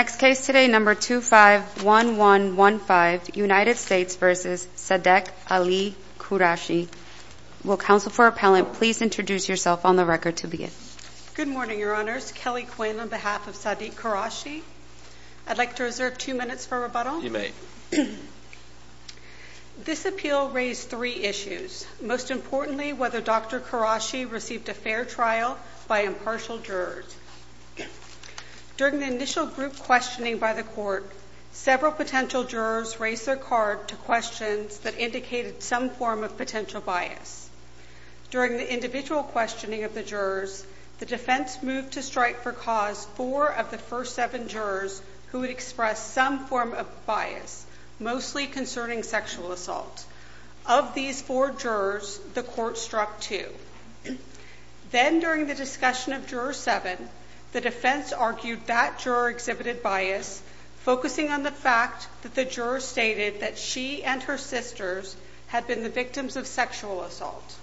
Next case today, number 251115, United States v. Sadeq Ali Quraishi. Will counsel for appellant please introduce yourself on the record to begin. Good morning, your honors. Kelly Quinn on behalf of Sadeq Quraishi. I'd like to reserve two minutes for rebuttal. You may. This appeal raised three issues. Most importantly, whether Dr. Quraishi received a fair trial by impartial jurors. During the initial group questioning by the court, several potential jurors raised their card to questions that indicated some form of potential bias. During the individual questioning of the jurors, the defense moved to strike for cause four of the first seven jurors who had expressed some form of bias, mostly concerning sexual assault. Of these four jurors, the court struck two. Then during the discussion of juror seven, the defense argued that juror exhibited bias, focusing on the fact that the juror stated that she and her sisters had been the victims of sexual assault.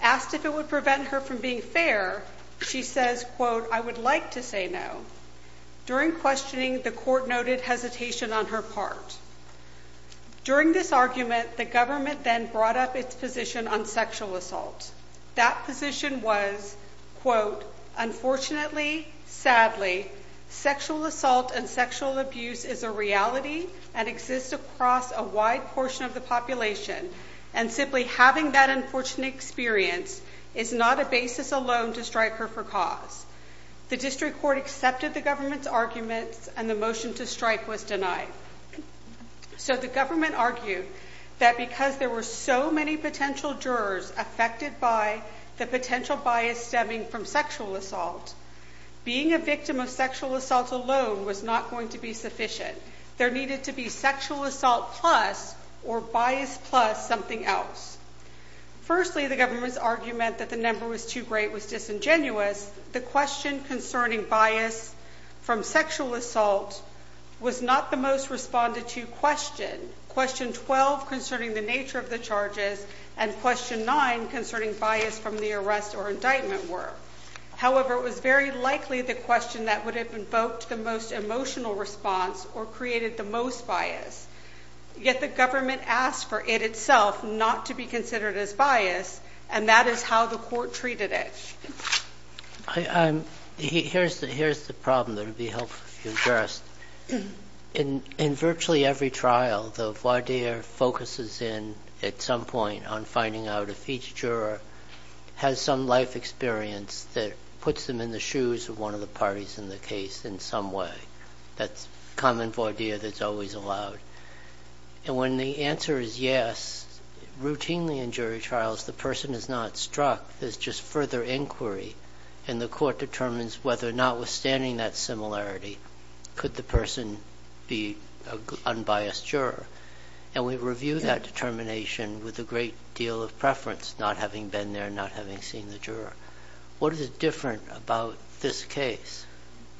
Asked if it would prevent her from being fair, she says, quote, I would like to say no. During questioning, the court noted hesitation on her part. During this argument, the government then brought up its position on sexual assault. That position was, quote, unfortunately, sadly, sexual assault and sexual abuse is a reality and exists across a wide portion of the population and simply having that unfortunate experience is not a basis alone to strike her for cause. The district court accepted the government's argument and the motion to strike was denied. So the government argued that because there were so many potential jurors affected by the potential bias stemming from sexual assault, being a victim of sexual assault alone was not going to be sufficient. There needed to be sexual assault plus or bias plus something else. Firstly, the government's argument that the number was too great was disingenuous. The question concerning bias from sexual assault was not the most responded to question. Question 12 concerning the nature of the charges and question 9 concerning bias from the arrest or indictment were. However, it was very likely the question that would have invoked the most emotional response or created the most bias. Yet the government asked for it itself not to be considered as bias and that is how the court treated it. Here's the problem that would be helpful if you addressed. In virtually every trial, the voir dire focuses in at some point on finding out if each juror has some life experience that puts them in the shoes of one of the parties in the case in some way. That's common for all jurors. When the answer is yes, routinely in jury trials, the person is not struck. There's just further inquiry and the court determines whether notwithstanding that similarity, could the person be an unbiased juror? We review that determination with a great deal of preference, not having been there, not having seen the juror. What is different about this case?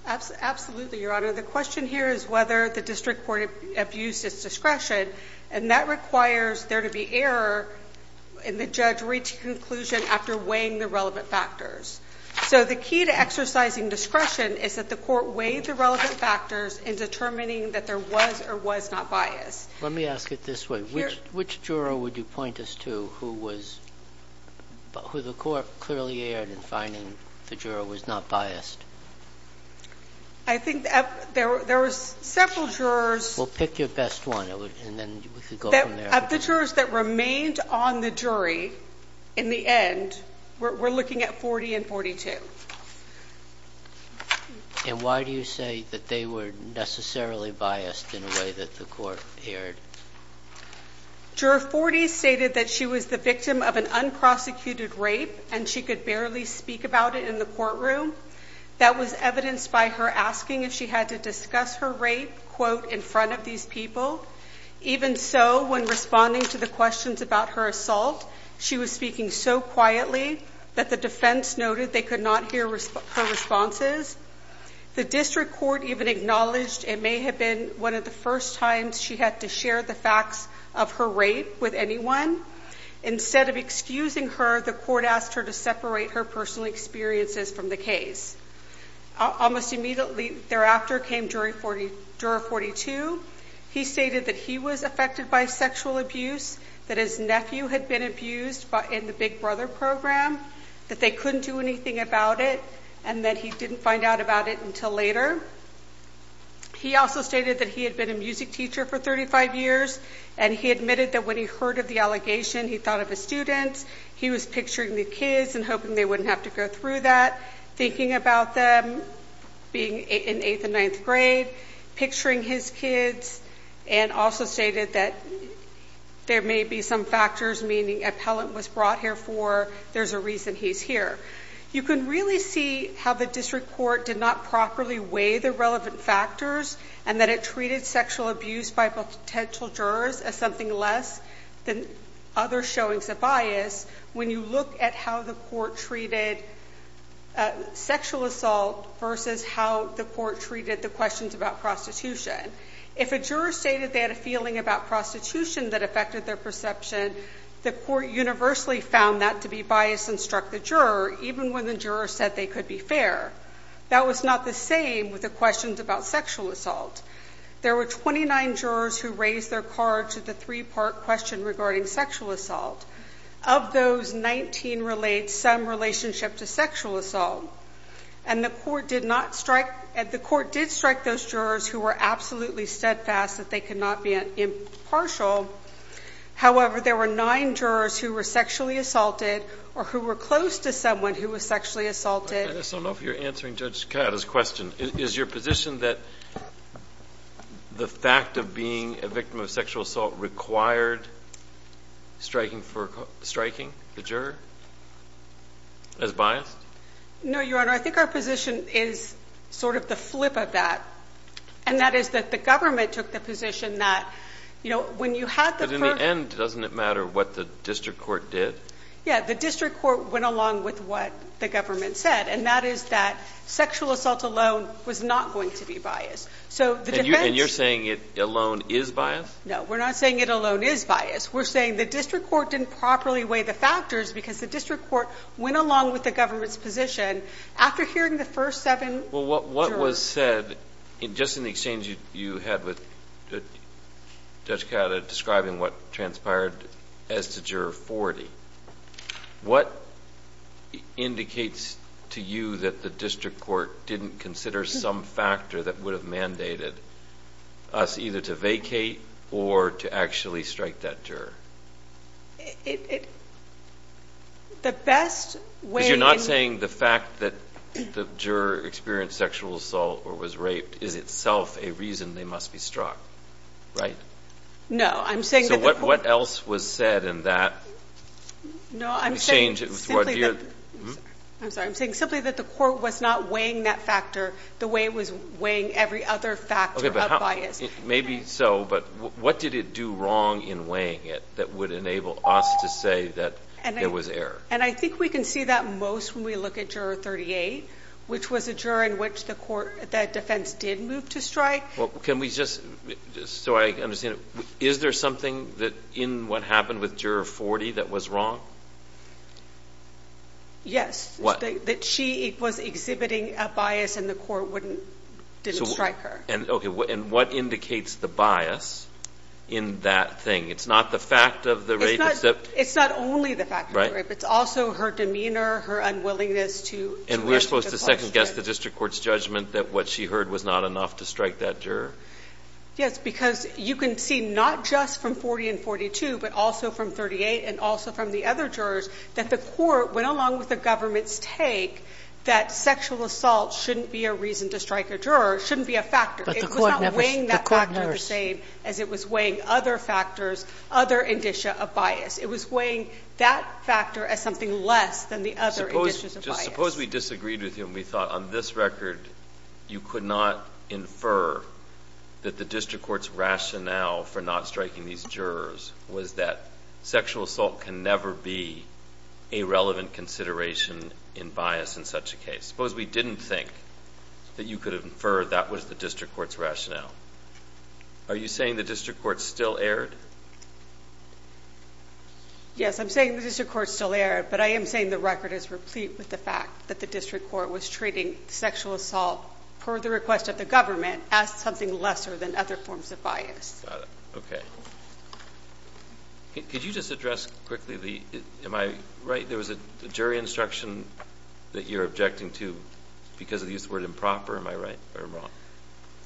Absolutely, Your Honor. The question here is whether the district court abused its discretion and that requires there to be error in the judge reaching conclusion after weighing the relevant factors. So the key to exercising discretion is that the court weighed the relevant factors in determining that there was or was not biased. Let me ask it this way. Which juror would you point us to who the court clearly erred in finding the juror was not biased? I think there was several jurors. Well, pick your best one and then we could go from there. Of the jurors that remained on the jury in the end, we're looking at 40 and 42. And why do you say that they were necessarily biased in a way that the court erred? Juror 40 stated that she was the victim of an unprosecuted rape and she could barely speak about it in the courtroom. That was evidenced by her asking if she had to discuss her rape, quote, in front of these people. Even so, when responding to the questions about her assault, she was speaking so quietly that the defense noted they could not hear her responses. The district court even acknowledged it may have been one of the first times she had to share the facts of her rape with anyone. Instead of excusing her, the court asked her to separate her personal experiences from the case. Almost immediately thereafter came juror 42. He stated that he was affected by sexual abuse, that his nephew had been abused in the Big Brother program, that they couldn't do anything about it, and that he didn't find out about it until later. He also stated that he had been a music teacher for 35 years, and he admitted that when he heard of the allegation, he thought of his students. He was picturing the kids and hoping they wouldn't have to go through that, thinking about them being in eighth and ninth grade, picturing his kids, and also stated that there may be some factors, meaning appellant was brought here for, there's a reason he's here. You can really see how the district court did not properly weigh the relevant factors, and that it treated sexual abuse by potential jurors as something less than other showings of bias when you look at how the court treated sexual assault versus how the court treated the questions about prostitution. If a juror stated they had a feeling about prostitution that affected their perception, the court universally found that to be biased and struck the juror, even when the juror said they could be fair. That was not the same with the questions about sexual assault. There were 29 jurors who raised their card to the three-part question regarding sexual assault. Of those, 19 relayed some relationship to sexual assault, and the court did strike those jurors who were absolutely steadfast that they could not be impartial. However, there were nine jurors who were sexually assaulted or who were close to someone who was sexually assaulted. I don't know if you're answering Judge Catta's question. Is your position that the fact of being a victim of sexual assault required striking the juror as biased? No, Your Honor. I think our position is sort of the flip of that, and that is that the government took the position that when you had the first... But in the end, doesn't it matter what the district court did? Yeah. The district court went along with what the government said, and that is that sexual assault alone was not going to be biased. So the defense... And you're saying it alone is biased? No. We're not saying it alone is biased. We're saying the district court didn't properly weigh the factors because the district court went along with the government's position. After hearing the first seven jurors... Well, what was said, just in the exchange you had with Judge Catta describing what transpired as to Juror 40, what indicates to you that the district court didn't consider some factor that would have mandated us either to vacate or to actually strike that juror? The best way... Because you're not saying the fact that the juror experienced sexual assault or was raped is itself a reason they must be struck, right? No. I'm saying that the court... What was said in that exchange with Judge... I'm sorry. I'm saying simply that the court was not weighing that factor the way it was weighing every other factor of bias. Maybe so, but what did it do wrong in weighing it that would enable us to say that there was error? And I think we can see that most when we look at Juror 38, which was a juror in which the defense did move to strike. Can we just, so I understand, is there something in what happened with Juror 40 that was wrong? Yes, that she was exhibiting a bias and the court didn't strike her. What indicates the bias in that thing? It's not the fact of the rape... It's not only the fact of the rape. It's also her demeanor, her unwillingness to... And we're supposed to second guess the district court's judgment that what she heard was not enough to strike that juror. Yes, because you can see not just from 40 and 42, but also from 38 and also from the other jurors that the court went along with the government's take that sexual assault shouldn't be a reason to strike a juror, shouldn't be a factor. It was not weighing that factor the same as it was weighing other factors, other indicia of bias. It was weighing that factor as something less than the other indicias of bias. Suppose we disagreed with you and we thought on this record you could not infer that the district court's rationale for not striking these jurors was that sexual assault can never be a relevant consideration in bias in such a case. Suppose we didn't think that you could have inferred that was the district court's rationale. Are you saying the district court still erred? Yes, I'm saying the district court still erred, but I am saying the record is replete with the fact that the district court was treating sexual assault per the request of the government as something lesser than other forms of bias. Got it. Okay. Could you just address quickly the, am I right, there was a jury instruction that you're objecting to because of the use of the word improper, am I right or wrong?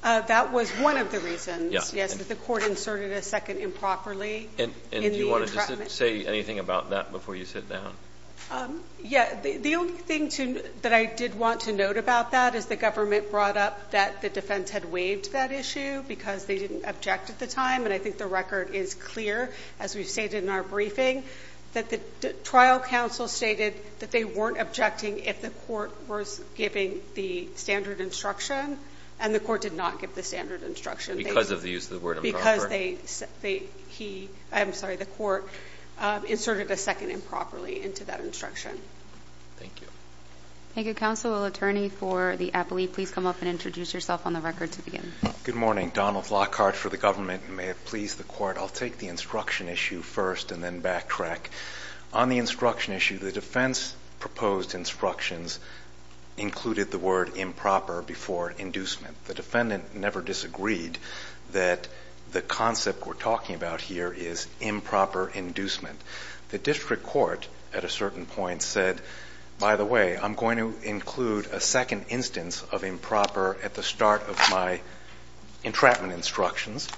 That was one of the reasons, yes, that the court inserted a second improperly in the And do you want to just say anything about that before you sit down? Yeah. The only thing that I did want to note about that is the government brought up that the defense had waived that issue because they didn't object at the time. And I think the record is clear, as we've stated in our briefing, that the trial counsel stated that they weren't objecting if the court was giving the standard instruction and the court did not give the standard instruction. Because of the use of the word improper? Because they, he, I'm sorry, the court inserted a second improperly into that instruction. Thank you. Thank you. Counsel, attorney for the appellee, please come up and introduce yourself on the record to begin. Good morning. Donald Lockhart for the government and may it please the court, I'll take the instruction issue first and then backtrack. On the instruction issue, the defense proposed instructions included the word improper before inducement. The defendant never disagreed that the concept we're talking about here is improper inducement. The district court at a certain point said, by the way, I'm going to include a second instance of improper at the start of my entrapment instructions.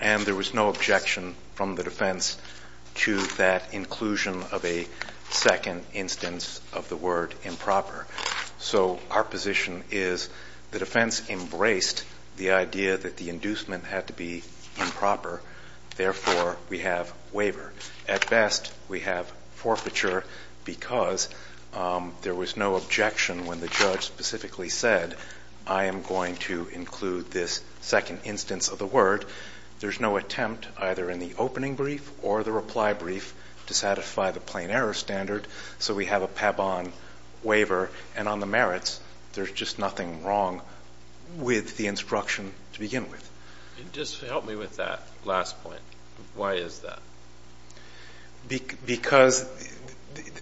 And there was no objection from the defense to that inclusion of a second instance of the word improper. So our position is the defense embraced the idea that the inducement had to be improper. Therefore, we have waiver. At best, we have forfeiture because there was no objection when the judge specifically said I am going to include this second instance of the word. There's no attempt either in the opening brief or the reply brief to satisfy the plain error standard. So we have a PABON waiver and on the merits, there's just nothing wrong with the instruction to begin with. Just help me with that last point. Why is that? Because,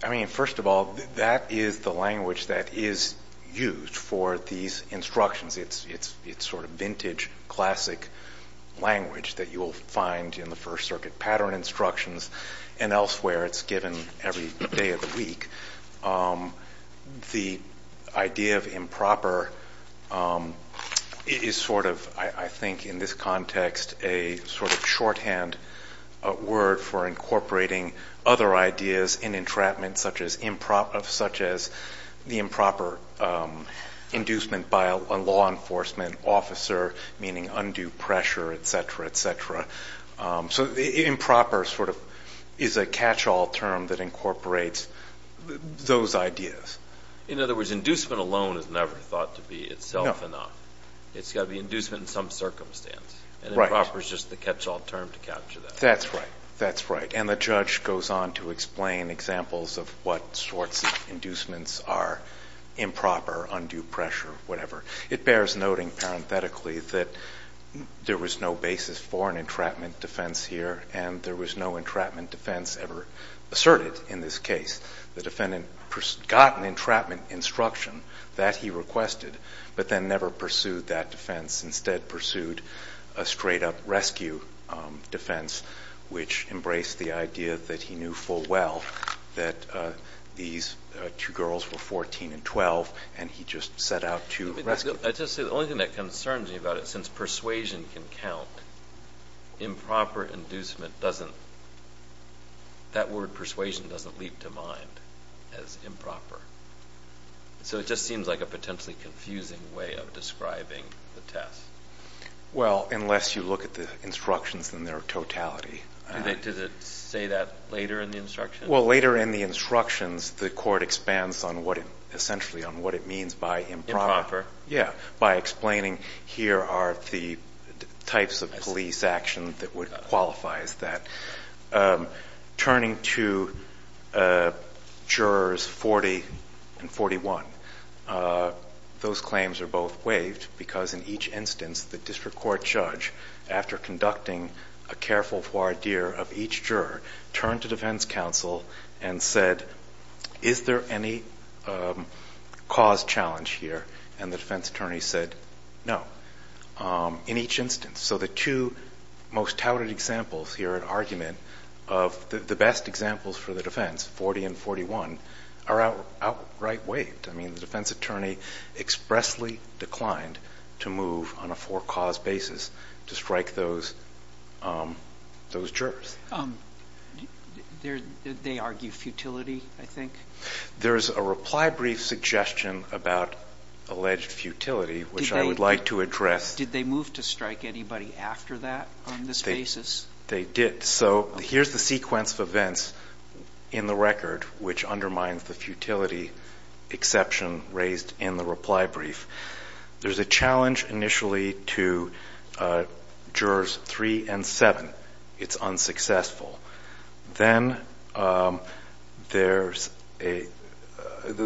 I mean, first of all, that is the language that is used for these instructions. It's sort of vintage, classic language that you will find in the First Circuit pattern instructions and elsewhere. It's given every day of the week. The idea of improper is sort of, I think in this context, a sort of shorthand word for incorporating other ideas in entrapment such as the improper inducement by a law enforcement officer, meaning undue pressure, etc., etc. So improper sort of is a catch-all term that incorporates those ideas. In other words, inducement alone is never thought to be itself enough. It's got to be inducement in some circumstance and improper is just the catch-all term to capture that. That's right. That's right. And the judge goes on to explain examples of what sorts of inducements are improper, undue pressure, whatever. It bears noting parenthetically that there was no basis for an entrapment defense here and there was no entrapment defense ever asserted in this case. The defendant got an entrapment instruction that he requested, but then never pursued that defense. Instead, pursued a straight-up rescue defense, which embraced the idea that he knew full well that these two girls were 14 and 12 and he just set out to rescue them. I'd just say the only thing that concerns me about it, since persuasion can count, improper inducement doesn't, that word persuasion doesn't leap to mind as improper. So it just seems like a potentially confusing way of describing the test. Well, unless you look at the instructions in their totality. Did it say that later in the instructions? Well, later in the instructions, the court expands on what it, essentially on what it means by improper. By explaining here are the types of police action that would qualify as that. Turning to jurors 40 and 41, those claims are both waived because in each instance, the district court judge, after conducting a careful voir dire of each juror, turned to defense counsel and said, is there any cause challenge here? And the defense attorney said, no, in each instance. So the two most touted examples here at argument of the best examples for the defense, 40 and 41, are outright waived. I mean, the defense attorney expressly declined to move on a four-cause basis to strike those jurors. Did they argue futility, I think? There's a reply brief suggestion about alleged futility, which I would like to address. Did they move to strike anybody after that on this basis? They did. So here's the sequence of events in the record, which undermines the futility exception raised in the reply brief. There's a challenge initially to jurors 3 and 7. It's unsuccessful. Then the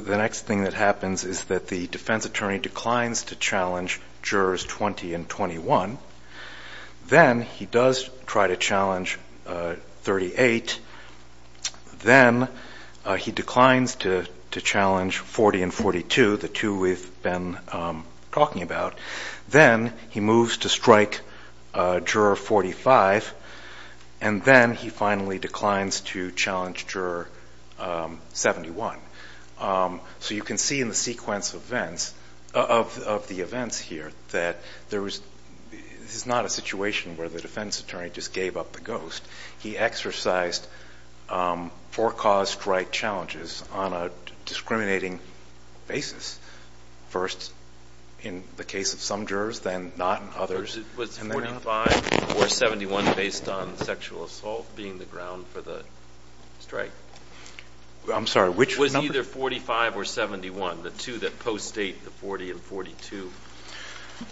next thing that happens is that the defense attorney declines to challenge jurors 20 and 21. Then he does try to challenge 38. Then he declines to challenge 40 and 42, the two we've been talking about. Then he moves to strike juror 45. And then he finally declines to challenge juror 71. So you can see in the sequence of the events here that this is not a situation where the defense attorney just gave up the ghost. He exercised four-cause strike challenges on a discriminating basis, first in the case of some jurors, then not in others. Was 45 or 71 based on sexual assault being the ground for the strike? I'm sorry, which number? Was either 45 or 71, the two that post-state the 40 and 42,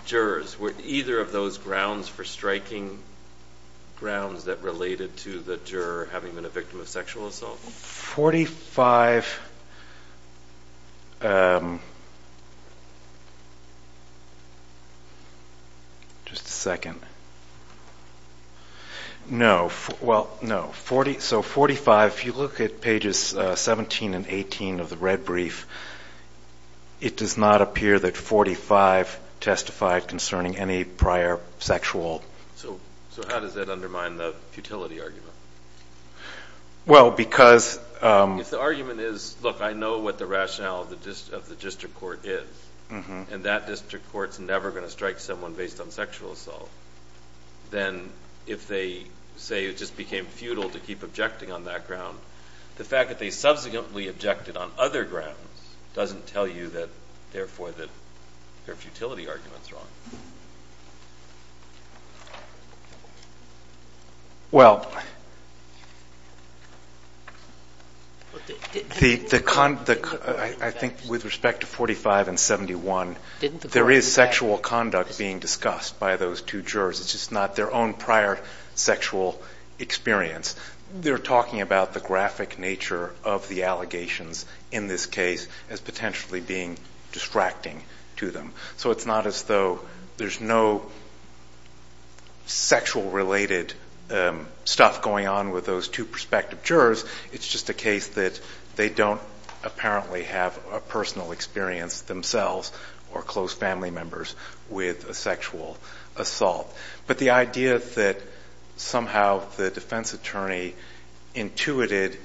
jurors, were either of those grounds for striking grounds that related to the juror having been a victim of sexual assault? Forty-five. Just a second. No. Well, no. So 45, if you look at pages 17 and 18 of the red brief, it does not appear that 45 testified concerning any prior sexual... So how does that undermine the futility argument? Well, because... If the argument is, look, I know what the rationale of the district court is, and that district court's never going to strike someone based on sexual assault, then if they say it just became futile to keep objecting on that ground, the fact that they subsequently objected on other grounds doesn't tell you that, therefore, that their futility argument's Well, I think with respect to 45 and 71, there was an argument that the district court was There is sexual conduct being discussed by those two jurors. It's just not their own prior sexual experience. They're talking about the graphic nature of the allegations in this case as potentially being distracting to them. So it's not as though there's no sexual-related stuff going on with those two prospective jurors. It's just a case that they don't apparently have a personal experience themselves or close family members with a sexual assault. But the idea that somehow the defense attorney intuited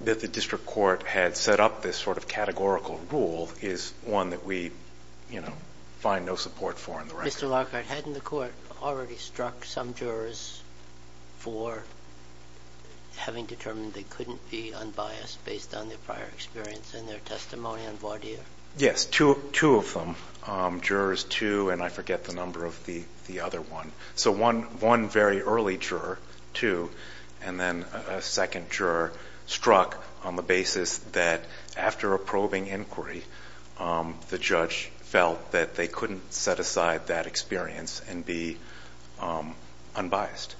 that the district court had set up this sort of categorical rule is one that we, you know, find no support for in the record. Mr. Lockhart, hadn't the court already struck some jurors for having determined they couldn't be unbiased based on their prior experience and their testimony on voir dire? Yes, two of them. Jurors two, and I forget the number of the other one. So one very early juror, two, and then a second juror struck on the basis that after approving inquiry, the judge felt that they couldn't set aside that experience and be unbiased.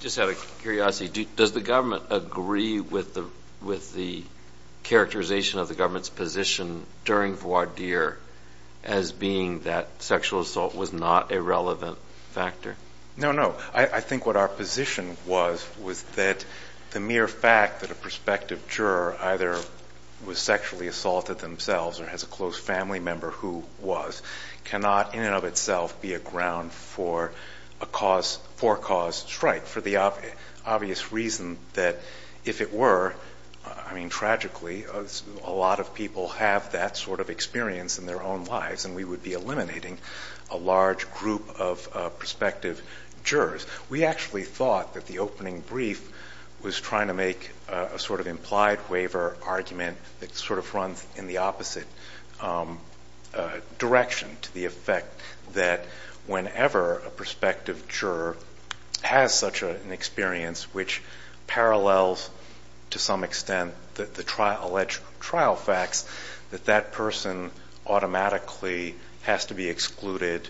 Just out of curiosity, does the government agree with the characterization of the government's position during voir dire as being that sexual assault was not a relevant factor? No, no. I think what our position was, was that the mere fact that a prospective juror either was sexually assaulted themselves or has a close family member who was, cannot in and of itself be a ground for a cause, forecaused strike, for the obvious reason that if it were, I mean, tragically, a lot of people have that sort of experience in their own lives, and we would be eliminating a large group of prospective jurors. We actually thought that the opening brief was trying to make a sort of implied waiver argument that sort of runs in the opposite direction to the effect that whenever a prospective juror has such an experience which parallels to some extent the alleged trial facts, that that person automatically has to be excluded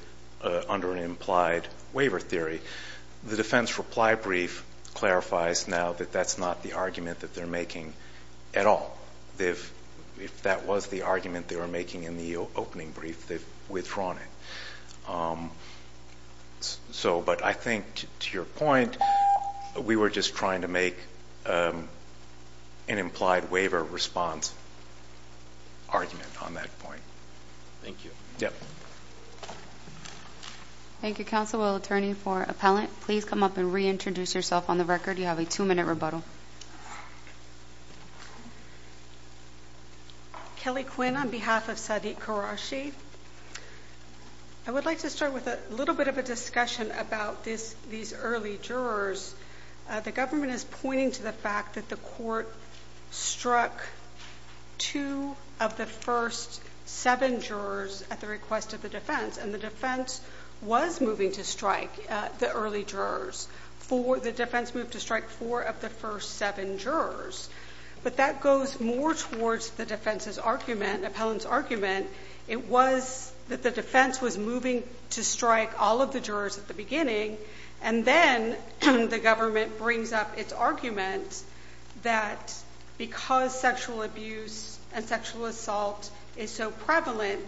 under an implied waiver theory. The defense reply brief clarifies now that that's not the argument that they're making at all. If that was the argument they were making in the opening brief, they've withdrawn it. But I think to your point, we were just trying to make an implied waiver response argument on that point. Thank you. Yep. Thank you, Counsel. Well, Attorney for Appellant, please come up and reintroduce yourself on the record. You have a two-minute rebuttal. Kelly Quinn on behalf of Sadiq Qureshi. I would like to start with a little bit of a discussion about these early jurors. The government is pointing to the fact that the court struck two of the first seven jurors at the request of the defense, and the defense was moving to strike the early jurors. The defense moved to strike four of the first seven jurors. But that goes more towards the defense's argument, appellant's argument. It was that the defense was moving to strike all of the jurors at the beginning, and then the government brings up its argument that because sexual abuse and sexual assault is so prevalent,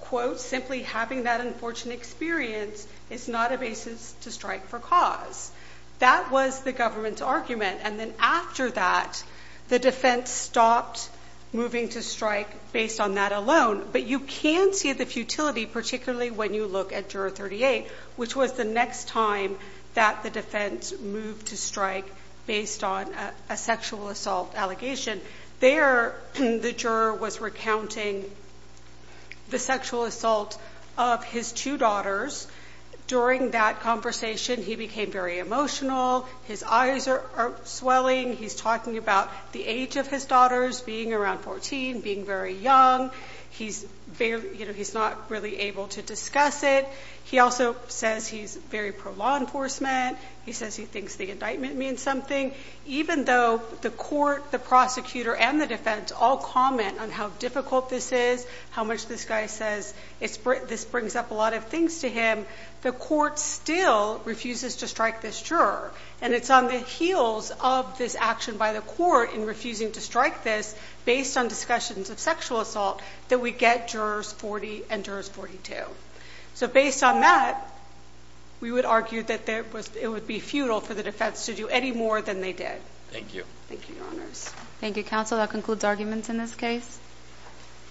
quote, simply having that unfortunate experience is not a basis to strike for cause. That was the government's argument. And then after that, the defense stopped moving to strike based on that alone. But you can see the futility, particularly when you look at Juror 38, which was the next time that the defense moved to strike based on a sexual assault allegation. There the juror was recounting the sexual assault of his two daughters. During that conversation he became very emotional. His eyes are swelling. He's talking about the age of his daughters being around 14, being very young. He's not really able to discuss it. He also says he's very pro-law enforcement. He says he thinks the indictment means something. Even though the court, the prosecutor, and the defense all comment on how difficult this is, how much this guy says this brings up a lot of things to him, the court still refuses to strike this juror. And it's on the heels of this action by the court in refusing to strike this based on discussions of sexual assault that we get Jurors 40 and 42. So based on that, we would argue that it would be futile for the defense to do any more than they did.